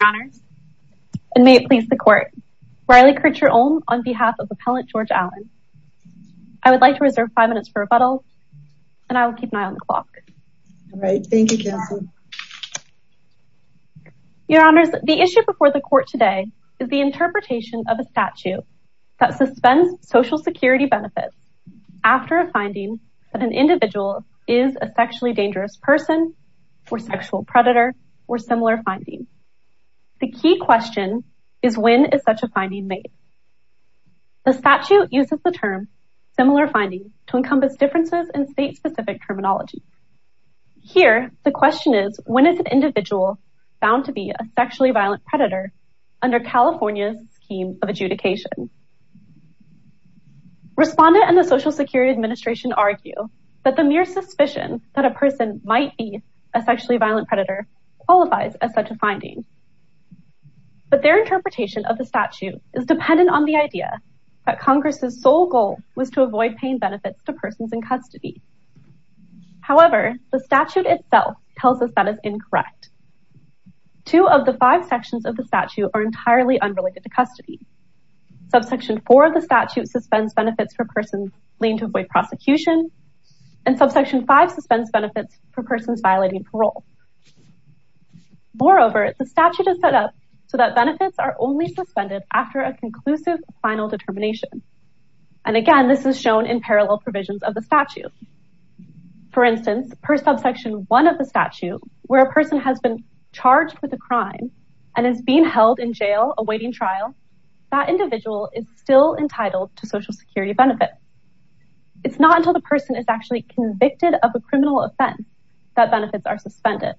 Your Honors, and may it please the court, Riley Kircher Ulm on behalf of Appellant George Allen. I would like to reserve five minutes for rebuttal and I will keep an eye on the clock. All right, thank you Council. Your Honors, the issue before the court today is the interpretation of a statute that suspends social security benefits after a finding that an individual is a sexually The key question is when is such a finding made? The statute uses the term similar findings to encompass differences in state-specific terminology. Here the question is when is an individual found to be a sexually violent predator under California's scheme of adjudication? Respondent and the Social Security Administration argue that the mere suspicion that a person might a sexually violent predator qualifies as such a finding. But their interpretation of the statute is dependent on the idea that Congress's sole goal was to avoid paying benefits to persons in custody. However, the statute itself tells us that is incorrect. Two of the five sections of the statute are entirely unrelated to custody. Subsection four of the statute suspends benefits for persons leaning to avoid prosecution and subsection five suspends benefits for persons violating parole. Moreover, the statute is set up so that benefits are only suspended after a conclusive final determination and again this is shown in parallel provisions of the statute. For instance, per subsection one of the statute where a person has been charged with a crime and is being held in jail awaiting trial, that individual is still entitled to social security benefits. It's not until the person is actually convicted of a criminal offense that benefits are suspended.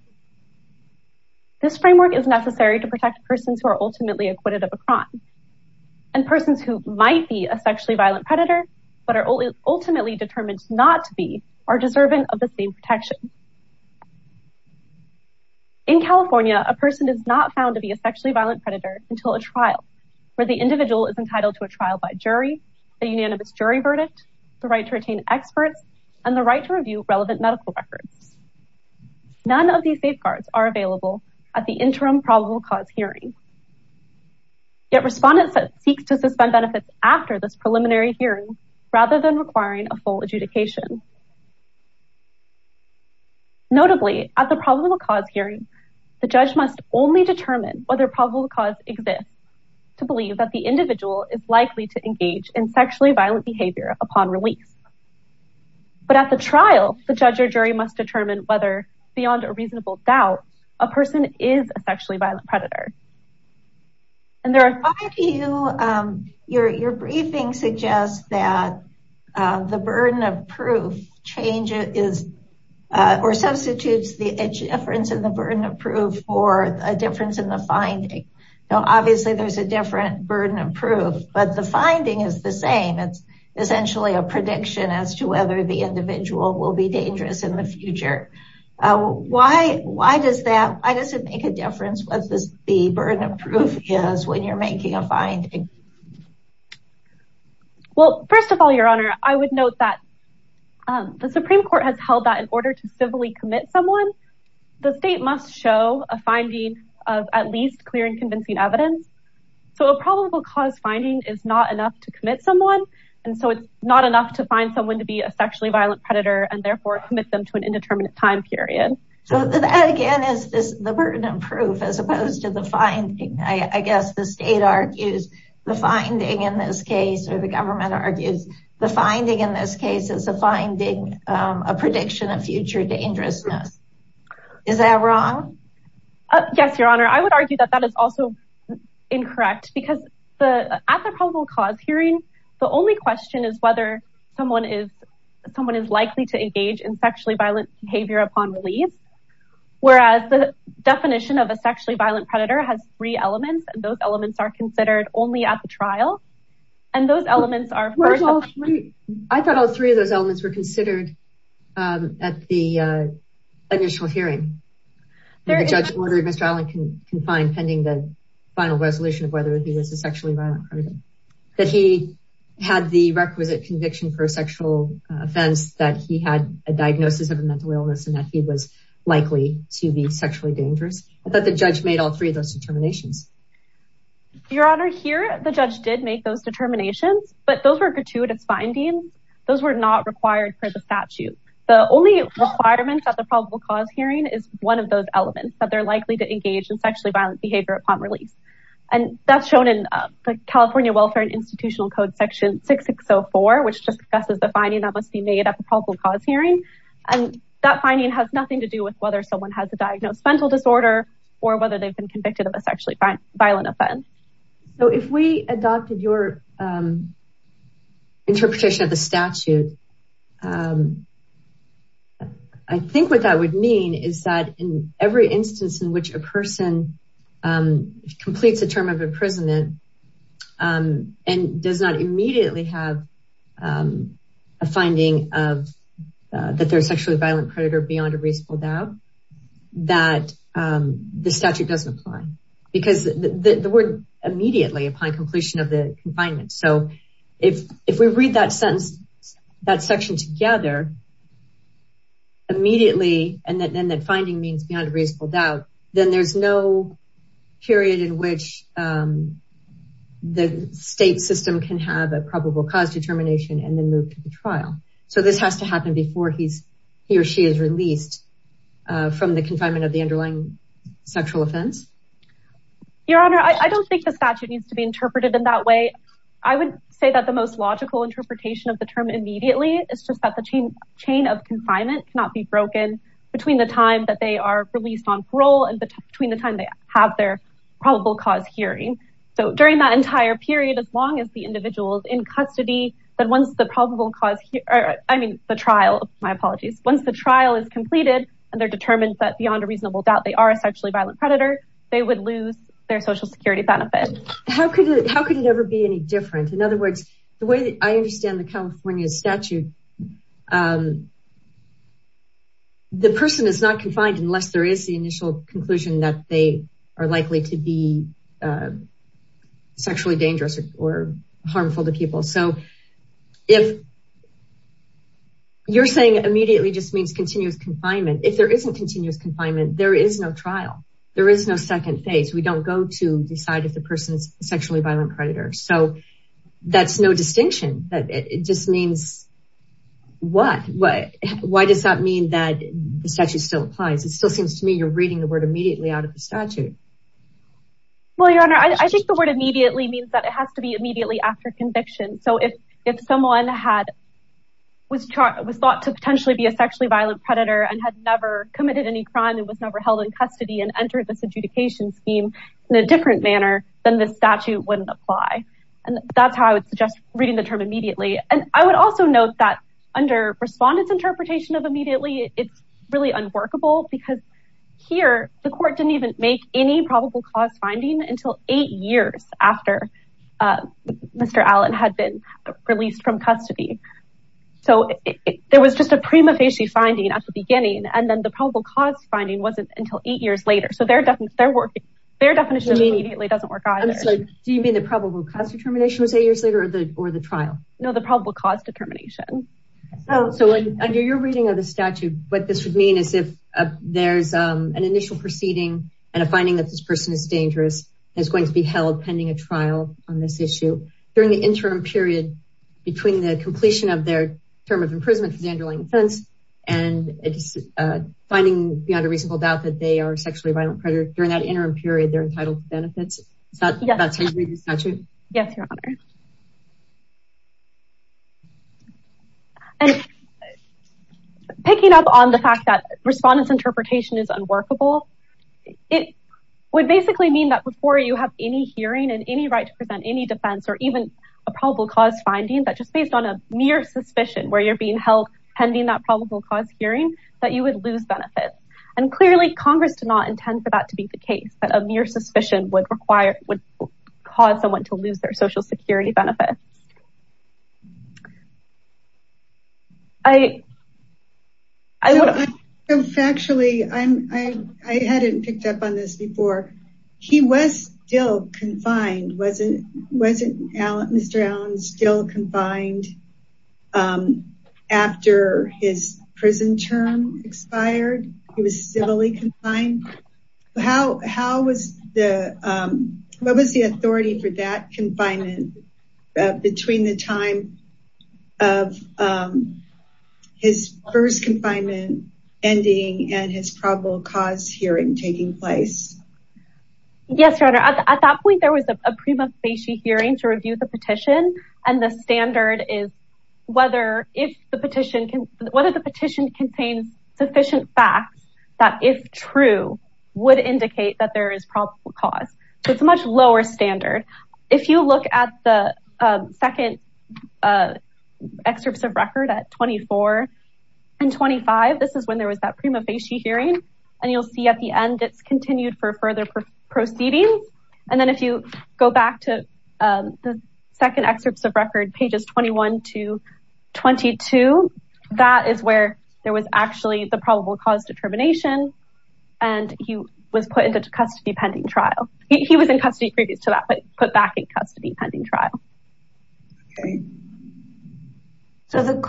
This framework is necessary to protect persons who are ultimately acquitted of a crime and persons who might be a sexually violent predator but are ultimately determined not to be are deserving of the same protection. In California, a person is not found to be a sexually violent predator until a trial where the individual is entitled to a trial by jury, a unanimous jury verdict, the right to retain experts, and the right to review relevant medical records. None of these safeguards are available at the interim probable cause hearing. Yet respondents seek to suspend benefits after this preliminary hearing rather than requiring a full adjudication. Notably, at the probable cause hearing, the judge must only determine whether probable cause exists to believe that the individual is likely to engage in sexually violent behavior upon release. But at the trial, the judge or jury must determine whether, beyond a reasonable doubt, a person is a sexually violent predator. Your briefing suggests that the burden of proof changes or substitutes the burden of proof. But the finding is the same. It's essentially a prediction as to whether the individual will be dangerous in the future. Why does it make a difference what the burden of proof is when you're making a finding? Well, first of all, Your Honor, I would note that the Supreme Court has held that in order to civilly commit someone, the state must show a probable cause finding is not enough to commit someone. And so it's not enough to find someone to be a sexually violent predator and therefore commit them to an indeterminate time period. So that again is the burden of proof as opposed to the finding. I guess the state argues the finding in this case, or the government argues the finding in this case is a finding, a prediction of future dangerousness. Is that wrong? Yes, Your Honor. I would argue that that is also incorrect because at the probable cause hearing, the only question is whether someone is likely to engage in sexually violent behavior upon release. Whereas the definition of a sexually violent predator has three elements, and those elements are considered only at the trial. And those elements are- I thought all three of those elements were considered at the initial hearing. The judge ordered Mr. Allen confined pending the final resolution of whether he was a sexually violent predator, that he had the requisite conviction for a sexual offense, that he had a diagnosis of a mental illness and that he was likely to be sexually dangerous. I thought the judge made all three of those determinations. Your Honor, here, the judge did make those determinations, but those were gratuitous findings. Those were not required for the statute. The only requirement at the probable cause hearing is one of those elements that they're likely to engage in sexually violent behavior upon release. And that's shown in the California Welfare and Institutional Code section 6604, which discusses the finding that must be made at the probable cause hearing. And that finding has nothing to do with whether someone has a diagnosed mental disorder or whether they've been convicted of a sexually violent offense. So if we adopted your interpretation of the statute, I think what that would mean is that in every instance in which a person completes a term of imprisonment and does not immediately have a finding of that they're a sexually violent predator beyond a reasonable doubt, that the statute doesn't apply. Because the word immediately upon completion of the confinement. So if we read that sentence, that section together, immediately, and then that finding means beyond a reasonable doubt, then there's no period in which the state system can have a probable cause determination and then move to the trial. So this has to happen before he or she is released from the confinement of the underlying sexual offense. Your Honor, I don't think the statute needs to be interpreted in that way. I would say that the most logical interpretation of the term immediately is just that the chain of confinement cannot be broken between the time that they are released on parole and between the time they have their probable cause hearing. So during that entire period, as long as the I mean, the trial, my apologies, once the trial is completed, and they're determined that beyond a reasonable doubt, they are a sexually violent predator, they would lose their social security benefit. How could it ever be any different? In other words, the way that I understand the California statute, the person is not confined unless there is the initial conclusion that they are likely to be sexually dangerous or harmful to people. So if you're saying immediately just means continuous confinement, if there isn't continuous confinement, there is no trial. There is no second phase. We don't go to decide if the person is a sexually violent predator. So that's no distinction. It just means what? Why does that mean that the statute still applies? It still seems to me you're reading the word immediately out of the statute. Well, Your Honor, I think the word immediately means that it has to be immediately after conviction. So if someone was thought to potentially be a sexually violent predator and had never committed any crime and was never held in custody and entered this adjudication scheme in a different manner, then the statute wouldn't apply. And that's how I would suggest reading the term immediately. And I would also note that under respondent's interpretation of immediately, it's really unworkable because here the court didn't even make any probable cause finding until eight years after Mr. Allen had been released from custody. So there was just a prima facie finding at the beginning. And then the probable cause finding wasn't until eight years later. So their definition immediately doesn't work either. Do you mean the probable cause determination was eight years later or the trial? No, the probable cause determination. So under your reading of the statute, what this would mean is if there's an initial proceeding and a finding that this person is dangerous and is going to be held pending a trial on this issue during the interim period between the completion of their term of imprisonment for the underlying offense and finding beyond a reasonable doubt that they are a sexually violent predator during that interim period, they're entitled to benefits. Is that how you read the statute? Yes, Your Honor. And picking up on the fact that respondent's interpretation is unworkable, it would basically mean that before you have any hearing and any right to present any defense or even a probable cause finding that just based on a mere suspicion where you're being held pending that probable cause hearing, that you would lose benefits. And clearly Congress did not intend for that to be the case, but a mere suspicion would cause someone to lose their social security benefits. Actually, I hadn't picked up on this before. He was still confined. Wasn't Mr. Allen still confined after his prison term expired? He was civilly confined. What was the authority for that confinement between the time of his first confinement ending and his probable cause hearing taking place? Yes, Your Honor. At that point, there was a prima facie hearing to review the petition and the standard is whether the petition contains sufficient facts that, if true, would indicate that there is probable cause. So it's a much lower standard. If you look at the second excerpts of record at 24 and 25, this is when there was that prima facie hearing, and you'll see at the end it's continued for further proceeding. And then if you go back to the second excerpts of record, pages 21 to 22, that is where there was actually the probable cause determination, and he was put into custody pending trial. He was in custody previous to that, but put back in custody pending trial. Okay. So in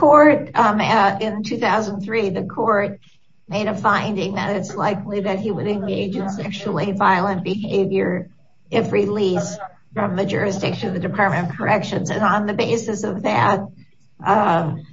2003, the court made a finding that it's likely that he would engage in sexually violent behavior if released from the jurisdiction of the Department of Corrections. And on the basis of that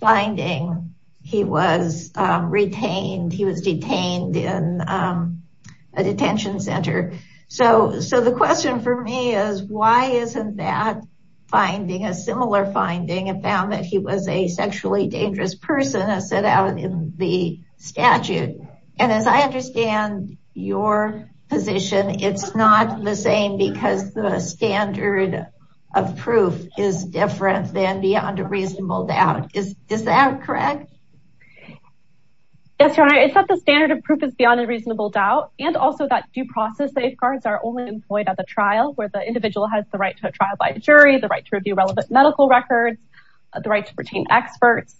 finding, he was retained. He was detained in a detention center. So the question for me is, why isn't that finding a similar finding and found that he was a sexually dangerous person as set out in the statute? And as I understand your position, it's not the same because the standard of proof is different than beyond a reasonable doubt. Is that correct? Yes, your honor. It's not the standard of proof is beyond a reasonable doubt, and also that due process safeguards are only employed at the trial where the individual has the right to a trial by the jury, the right to review relevant medical records, the right to experts.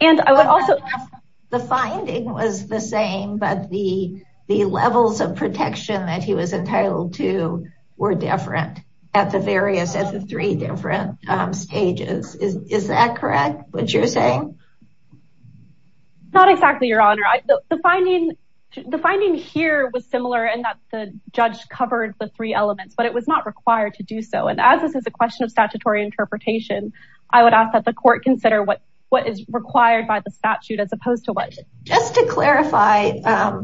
The finding was the same, but the levels of protection that he was entitled to were different at the various, at the three different stages. Is that correct, what you're saying? Not exactly, your honor. The finding here was similar in that the judge covered the three elements, but it was not required to do so. And as this is a question of statutory interpretation, I would ask that the court consider what is required by the statute as opposed to what? Just to clarify,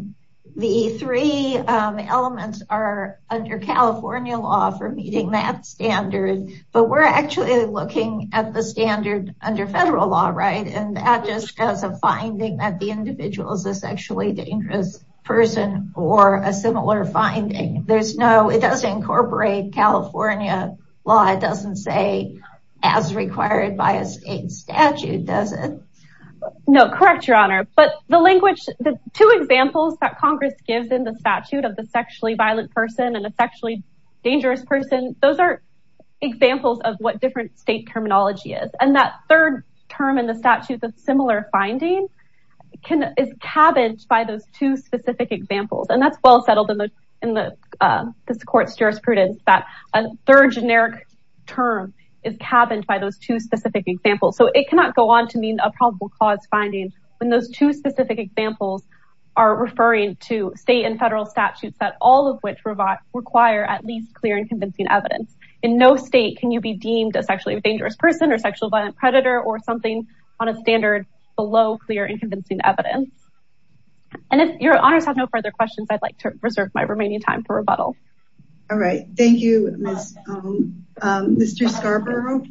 the three elements are under California law for meeting that standard, but we're actually looking at the standard under federal law, right? And that just has a finding that the individual is a sexually dangerous person or a similar finding. There's no, it required by a state statute, does it? No, correct, your honor. But the language, the two examples that Congress gives in the statute of the sexually violent person and a sexually dangerous person, those are examples of what different state terminology is. And that third term in the statute of similar findings is cabined by those two specific examples. And that's well settled in this court's jurisprudence that a third generic term is cabined by those two specific examples. So it cannot go on to mean a probable cause finding when those two specific examples are referring to state and federal statutes that all of which require at least clear and convincing evidence. In no state can you be deemed a sexually dangerous person or sexual violent predator or something on a standard below clear and convincing evidence. And if your honors have no further questions, I'd like to reserve my remaining time for rebuttal. All right. Thank you, Mr. Scarborough.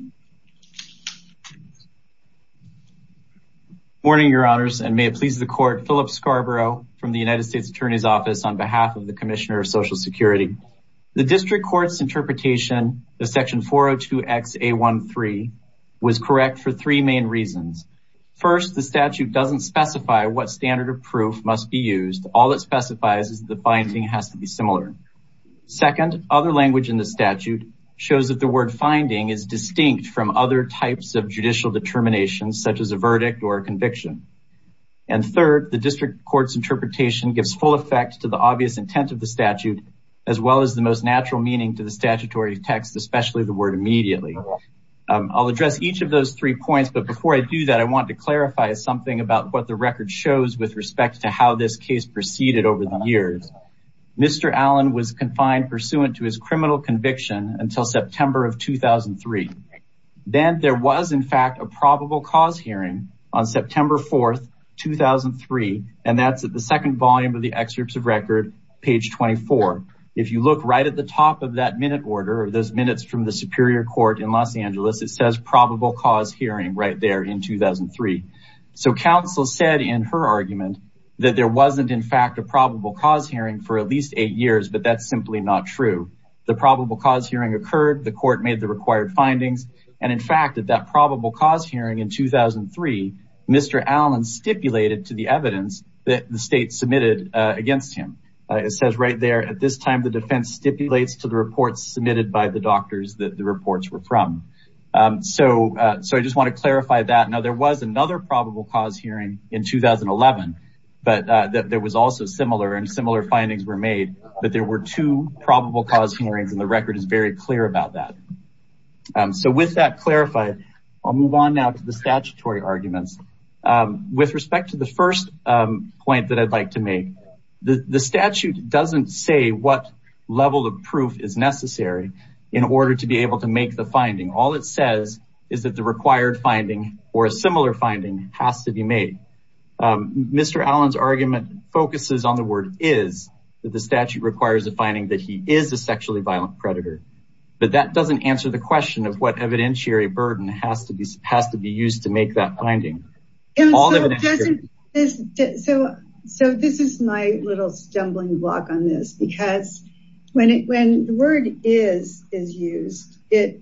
Morning, your honors, and may it please the court, Philip Scarborough from the United States Attorney's Office on behalf of the Commissioner of Social Security. The district court's interpretation of section 402XA13 was correct for three main reasons. First, the statute doesn't specify what standard of proof must be used. All it specifies is the finding has to be similar. Second, other language in the statute shows that the word finding is distinct from other types of judicial determinations such as a verdict or a conviction. And third, the district court's interpretation gives full effect to the obvious intent of the statute as well as the most natural meaning to the statutory text, especially the word immediately. I'll address each of those three shows with respect to how this case proceeded over the years. Mr. Allen was confined pursuant to his criminal conviction until September of 2003. Then there was, in fact, a probable cause hearing on September 4th, 2003, and that's at the second volume of the excerpts of record, page 24. If you look right at the top of that minute order, those minutes from the Superior Court in Los Angeles, it says probable cause hearing right there in 2003. So counsel said in her argument that there wasn't, in fact, a probable cause hearing for at least eight years, but that's simply not true. The probable cause hearing occurred, the court made the required findings, and in fact, at that probable cause hearing in 2003, Mr. Allen stipulated to the evidence that the state submitted against him. It says right there, at this time, the defense stipulates to the reports submitted by the doctors that the reports were from. So I just want to clarify that. Now, there was another probable cause hearing in 2011, but there was also similar, and similar findings were made, but there were two probable cause hearings, and the record is very clear about that. So with that clarified, I'll move on now to the statutory arguments. With respect to the first point that I'd like to make, the statute doesn't say what level of proof is necessary in order to be able to make the finding. All it says is that the required finding or a similar finding has to be made. Mr. Allen's argument focuses on the word is, that the statute requires a finding that he is a sexually violent predator, but that doesn't answer the question of what evidentiary burden has to be used to make that finding. So this is my little stumbling block on this, because when the word is is used, it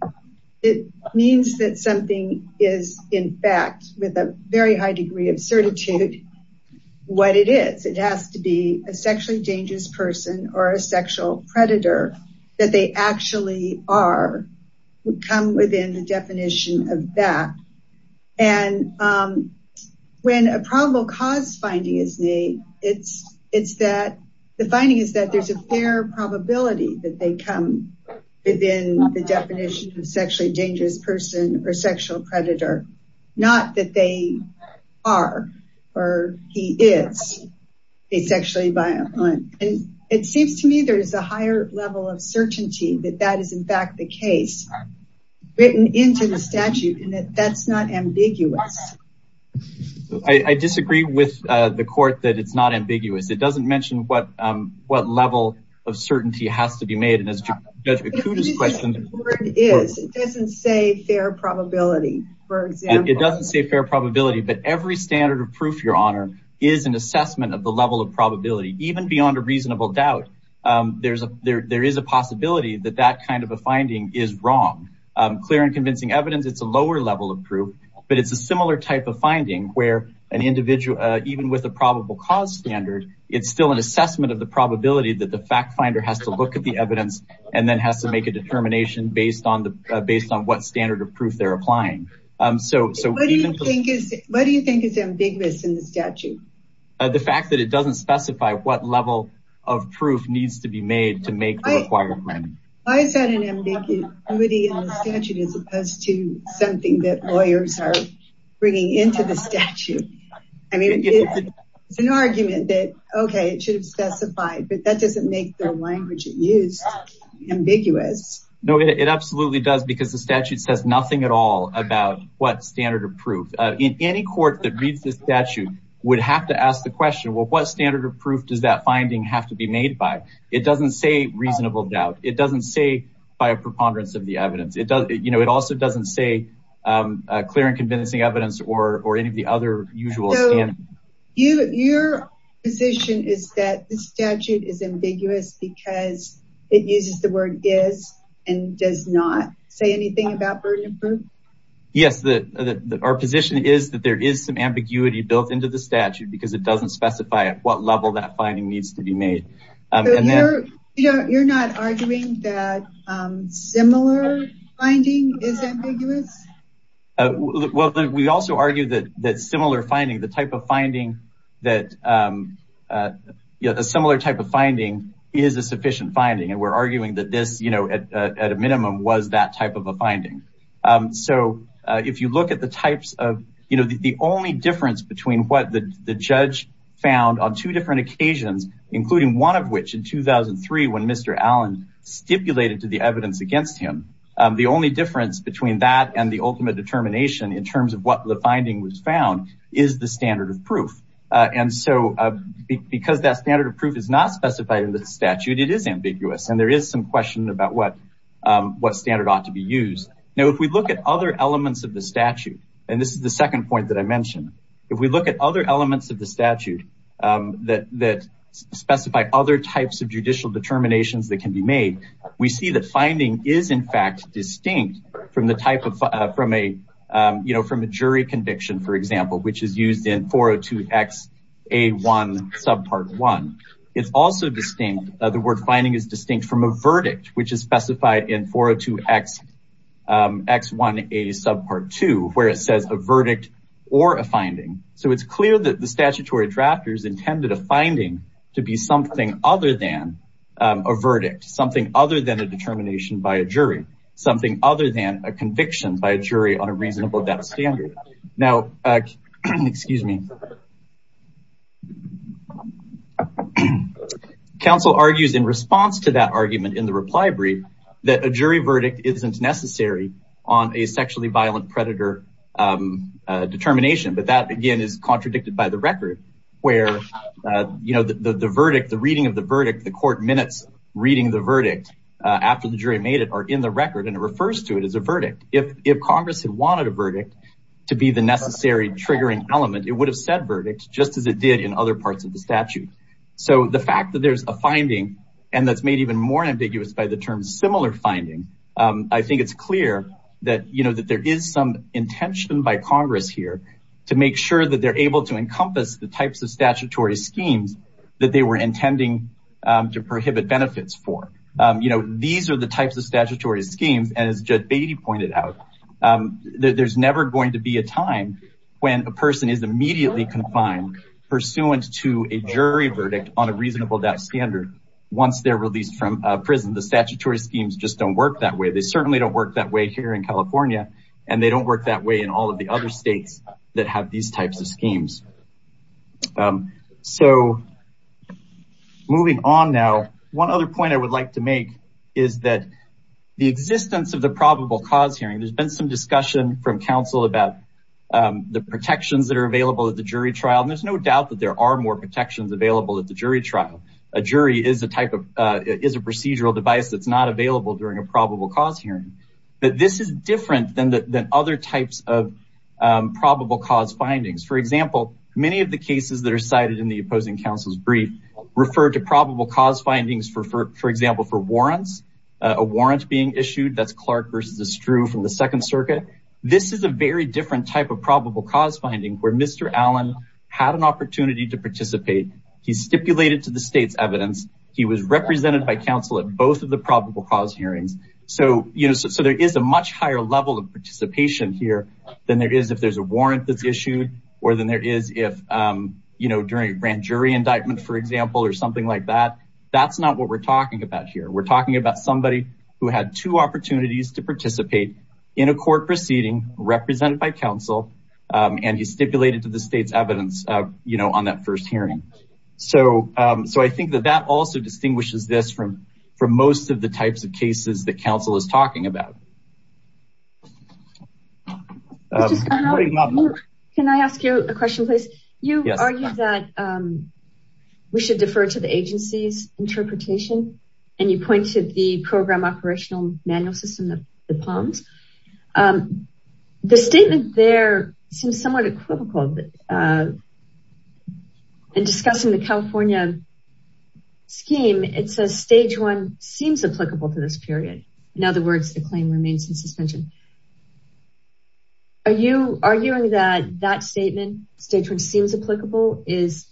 means that something is in fact, with a very high degree of certitude, what it is. It has to be a sexually dangerous person or a sexual predator that they actually are, would come within the definition of that. And when a probable cause finding is made, the finding is that there's a fair probability that they come within the definition of sexually dangerous person or sexual predator, not that they are or he is a sexually violent. And it seems to me there is a higher level of certainty that that is in fact, the case written into the statute and that that's not ambiguous. I disagree with the court that it's not ambiguous. It doesn't mention what level of certainty has to be made. And as a question, it doesn't say fair probability, for example, it doesn't say fair probability, but every standard of proof your honor is an assessment of the level of probability, even beyond a reasonable doubt. There is a possibility that that kind of a finding is wrong, clear and convincing evidence, it's a lower level of proof, but it's a similar type of finding where an individual, even with a probable cause standard, it's still an assessment of the probability that the fact finder has to look at the evidence and then has to make a determination based on what standard of proof is in the statute. The fact that it doesn't specify what level of proof needs to be made to make the required finding. Why is that an ambiguity in the statute as opposed to something that lawyers are bringing into the statute? I mean, it's an argument that okay, it should have specified, but that doesn't make the language it used ambiguous. No, it absolutely does because the statute says nothing at all about what standard of proof. In any court that reads this statute would have to ask the question, well, what standard of proof does that finding have to be made by? It doesn't say reasonable doubt. It doesn't say by a preponderance of the evidence. It also doesn't say clear and convincing evidence or any of the other usual standards. Your position is that this statute is ambiguous because it uses the word is and does not say about burden of proof? Yes, our position is that there is some ambiguity built into the statute because it doesn't specify at what level that finding needs to be made. You're not arguing that similar finding is ambiguous? Well, we also argue that similar finding, the type of finding that a similar type of finding is a sufficient finding. We're arguing that this at a minimum was that type of a finding. If you look at the types of, the only difference between what the judge found on two different occasions, including one of which in 2003 when Mr. Allen stipulated to the evidence against him, the only difference between that and the ultimate determination in terms of what the finding was is the standard of proof. And so because that standard of proof is not specified in the statute, it is ambiguous. And there is some question about what standard ought to be used. Now, if we look at other elements of the statute, and this is the second point that I mentioned, if we look at other elements of the statute that specify other types of judicial determinations that can be made, we see that finding is in fact distinct from the type of, from a, you know, from a jury conviction, for example, which is used in 402XA1 subpart one. It's also distinct. The word finding is distinct from a verdict, which is specified in 402X1A subpart two, where it says a verdict or a finding. So it's clear that the statutory drafters intended a finding to be something other than a verdict, something other than a determination by a jury, something other than a conviction by a jury on a reasonable death standard. Now, excuse me. Council argues in response to that argument in the reply brief that a jury verdict isn't necessary on a sexually violent predator determination. But that again is contradicted by the record where, you know, the verdict, the reading of the verdict, the court minutes reading the verdict after the jury made it are in the record and it refers to it as a verdict. If Congress had wanted a verdict to be the necessary triggering element, it would have said verdict just as it did in other parts of the statute. So the fact that there's a finding and that's made even more ambiguous by the term similar finding, I think it's clear that, you know, that there is some intention by Congress here to make sure that they're able to encompass the types of statutory schemes that they were intending to prohibit benefits for. You know, these are the types of statutory schemes as Judge Beatty pointed out. There's never going to be a time when a person is immediately confined pursuant to a jury verdict on a reasonable death standard once they're released from prison. The statutory schemes just don't work that way. They certainly don't work that way here in California and they don't work that way in all of the other states that have these cases. Moving on now, one other point I would like to make is that the existence of the probable cause hearing, there's been some discussion from counsel about the protections that are available at the jury trial and there's no doubt that there are more protections available at the jury trial. A jury is a type of, is a procedural device that's not available during a probable cause hearing, but this is different than other types of probable cause findings. For example, many of the cases that are cited in the opposing counsel's brief refer to probable cause findings, for example, for warrants. A warrant being issued, that's Clark versus Estrue from the Second Circuit. This is a very different type of probable cause finding where Mr. Allen had an opportunity to participate. He stipulated to the state's evidence. He was represented by counsel at both of the probable cause hearings. So, you know, so there is a much higher level of participation here than there is if there's a warrant that's issued or than there is if, you know, during a grand jury indictment, for example, or something like that. That's not what we're talking about here. We're talking about somebody who had two opportunities to participate in a court proceeding represented by counsel and he stipulated to the state's evidence, you know, on that first hearing. So, I think that that also distinguishes this from most of the types of cases that we're talking about. Can I ask you a question, please? You argued that we should defer to the agency's interpretation and you pointed the program operational manual system, the POMS. The statement there seems somewhat equivocal in discussing the California scheme. It says stage one seems applicable to period. In other words, the claim remains in suspension. Are you arguing that that statement, stage one seems applicable is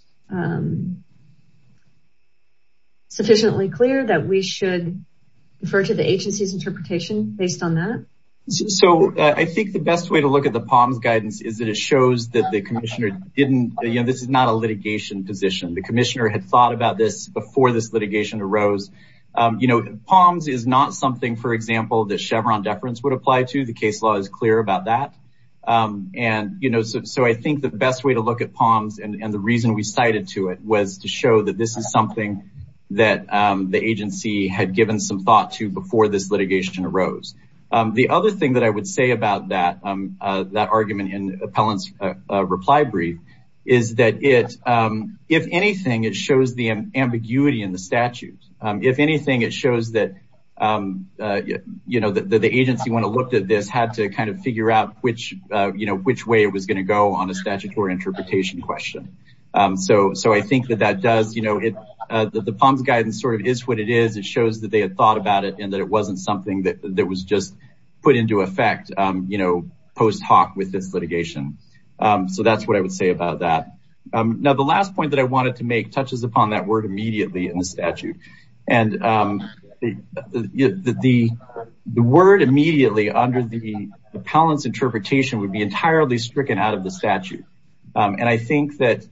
sufficiently clear that we should defer to the agency's interpretation based on that? So, I think the best way to look at the POMS guidance is that it shows that the commissioner didn't, you know, this is not a litigation position. The commissioner had thought about before this litigation arose. You know, POMS is not something, for example, the Chevron deference would apply to. The case law is clear about that. And, you know, so I think the best way to look at POMS and the reason we cited to it was to show that this is something that the agency had given some thought to before this litigation arose. The other thing that I would say about that argument in Appellant's reply brief is that if anything, it shows the ambiguity in the statute. If anything, it shows that, you know, the agency when it looked at this had to kind of figure out which way it was going to go on a statutory interpretation question. So, I think that that does, you know, the POMS guidance sort of is what it is. It shows that they had thought about it and that it wasn't something that was just put into effect, you know, post hoc with this litigation. So, that's what I would say about that. Now, the last point that I wanted to make touches upon that word immediately in the statute. And the word immediately under the Appellant's interpretation would be entirely stricken out of the statute. And I think that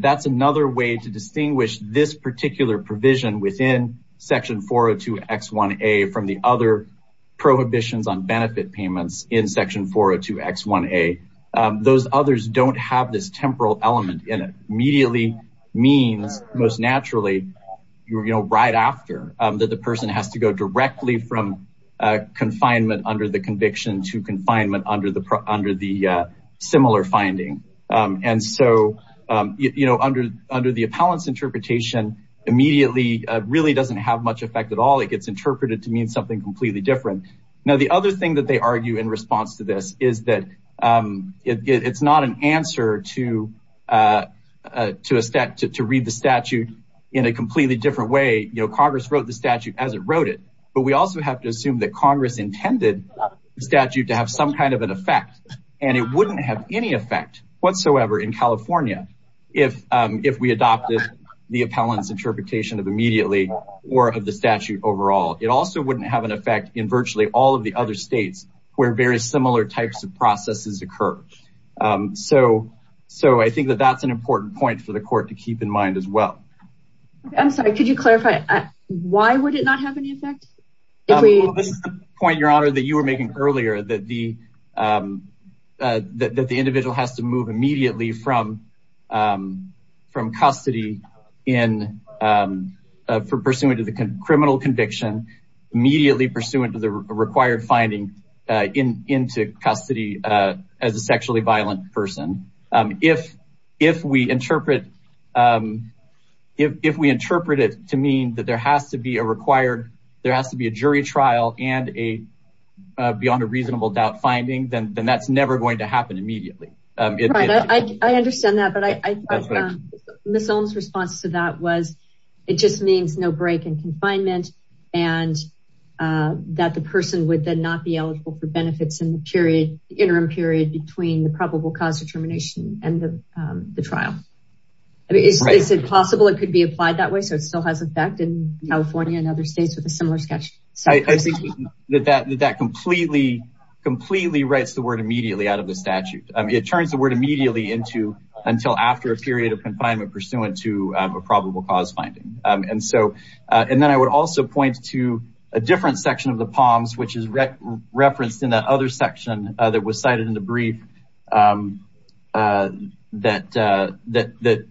that's another way to distinguish this particular provision within Section 402X1A from the other prohibitions on benefit payments in Section 402X1A. Those others don't have this temporal element in it. Immediately means, most naturally, you know, right after that the person has to go directly from confinement under the conviction to confinement under the similar finding. And so, you know, under the Appellant's interpretation, immediately really doesn't have much effect at all. It gets interpreted to mean something completely different. Now, the other thing that they argue in response to this is that it's not an answer to read the statute in a completely different way. You know, Congress wrote the statute as it wrote it. But we also have to assume that Congress intended the statute to have some kind of an effect. And it wouldn't have any effect whatsoever in California if we adopted the Appellant's interpretation of immediately or of the statute overall. It also wouldn't have an effect in all of the other states where very similar types of processes occur. So I think that that's an important point for the Court to keep in mind as well. I'm sorry, could you clarify, why would it not have any effect? The point, Your Honor, that you were making earlier, that the individual has to move immediately from custody pursuant to the criminal conviction, immediately pursuant to the required finding into custody as a sexually violent person. If we interpret it to mean that there has to be a required, there has to be a jury trial and a beyond a reasonable doubt finding, then that's never going to happen immediately. Right, I understand that. But Ms. Ohm's response to that was it just means no break in confinement and that the person would then not be eligible for benefits in the interim period between the probable cause determination and the trial. Is it possible it could be applied that way so it still has effect in California and other states with a similar statute? I think that that completely writes the word immediately out of the statute. It turns the word immediately into until after a period of confinement pursuant to a probable cause finding. And so, and then I would also point to a different section of the POMS which is referenced in that other section that was cited in the brief that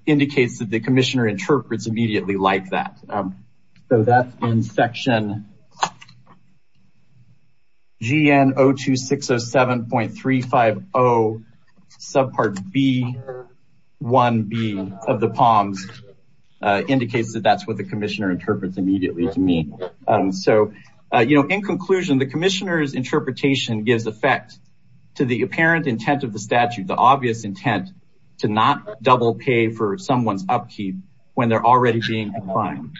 indicates that the commissioner interprets immediately like that. So that's in section GN 02607.350 subpart B1B of the POMS indicates that that's what the commissioner interprets immediately to me. So, you know, in conclusion, the commissioner's interpretation gives effect to the apparent intent of the statute, the obvious intent to not double pay for someone's upkeep when they're already being declined.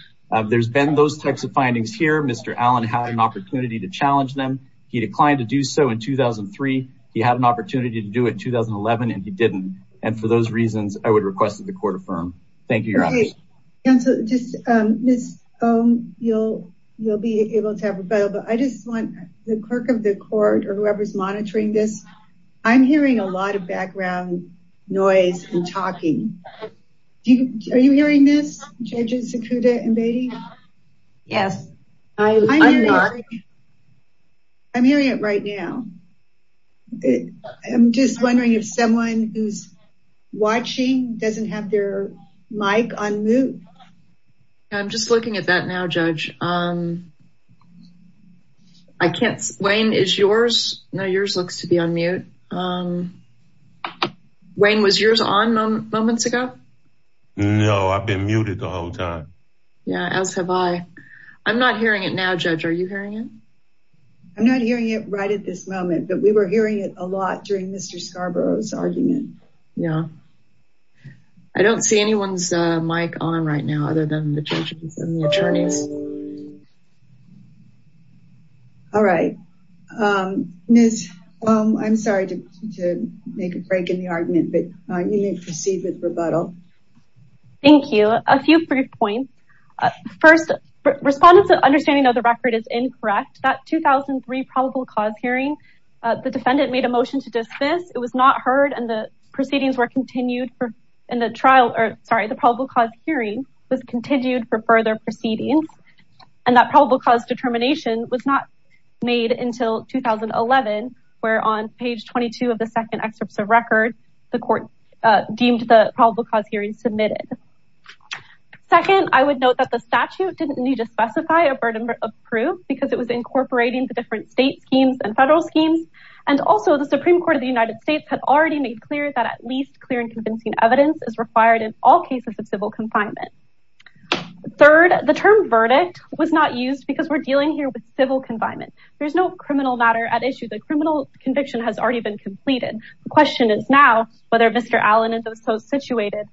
There's been those types of findings here. Mr. Allen had an opportunity to challenge them. He declined to do so in 2003. He had an opportunity to do it in 2011 and he Thank you. You're on mute. And so just Ms. Ohm, you'll be able to have a go, but I just want the clerk of the court or whoever's monitoring this. I'm hearing a lot of background noise and talking. Are you hearing this judges Sakuda and Beatty? Yes, I'm not. I'm hearing it right now. I'm just wondering if someone who's Mike on mute. I'm just looking at that now, judge. I can't Wayne is yours. No, yours looks to be on mute. Wayne was yours on moments ago. No, I've been muted the whole time. Yeah, as have I. I'm not hearing it now. Judge, are you hearing it? I'm not hearing it right at this moment, but we were hearing it a lot during Mr. Scarborough's Yeah, I don't see anyone's Mike on right now other than the judges and the attorneys. All right, Ms. Ohm, I'm sorry to make a break in the argument, but you may proceed with rebuttal. Thank you. A few brief points. First, respondents understanding of the record is incorrect. That probable cause hearing, the defendant made a motion to dismiss. It was not heard. And the proceedings were continued for in the trial, or sorry, the probable cause hearing was continued for further proceedings. And that probable cause determination was not made until 2011, where on page 22 of the second excerpts of record, the court deemed the probable cause hearing submitted. Second, I would note that the statute didn't need to specify a burden of proof because it was incorporating the different state schemes and federal schemes. And also the Supreme Court of the United States had already made clear that at least clear and convincing evidence is required in all cases of civil confinement. Third, the term verdict was not used because we're dealing here with civil confinement. There's no criminal matter at issue. The criminal conviction has already been completed. The question is now whether Mr. Allen and those so situated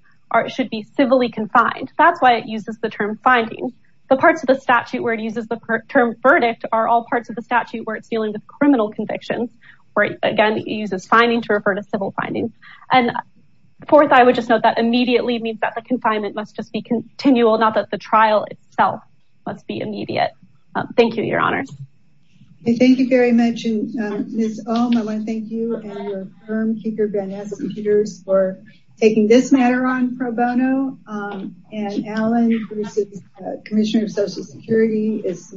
should be civilly confined. That's why it uses the term finding the parts of the statute where it uses term verdict are all parts of the statute where it's dealing with criminal convictions, where again, it uses finding to refer to civil findings. And fourth, I would just note that immediately means that the confinement must just be continual, not that the trial itself must be immediate. Thank you, Your Honor. Thank you very much. And Ms. Ohm, I want to thank you and your firm, Keeper Van Ness and Peters for taking this matter on pro bono. And Allen, Commissioner of Social Security is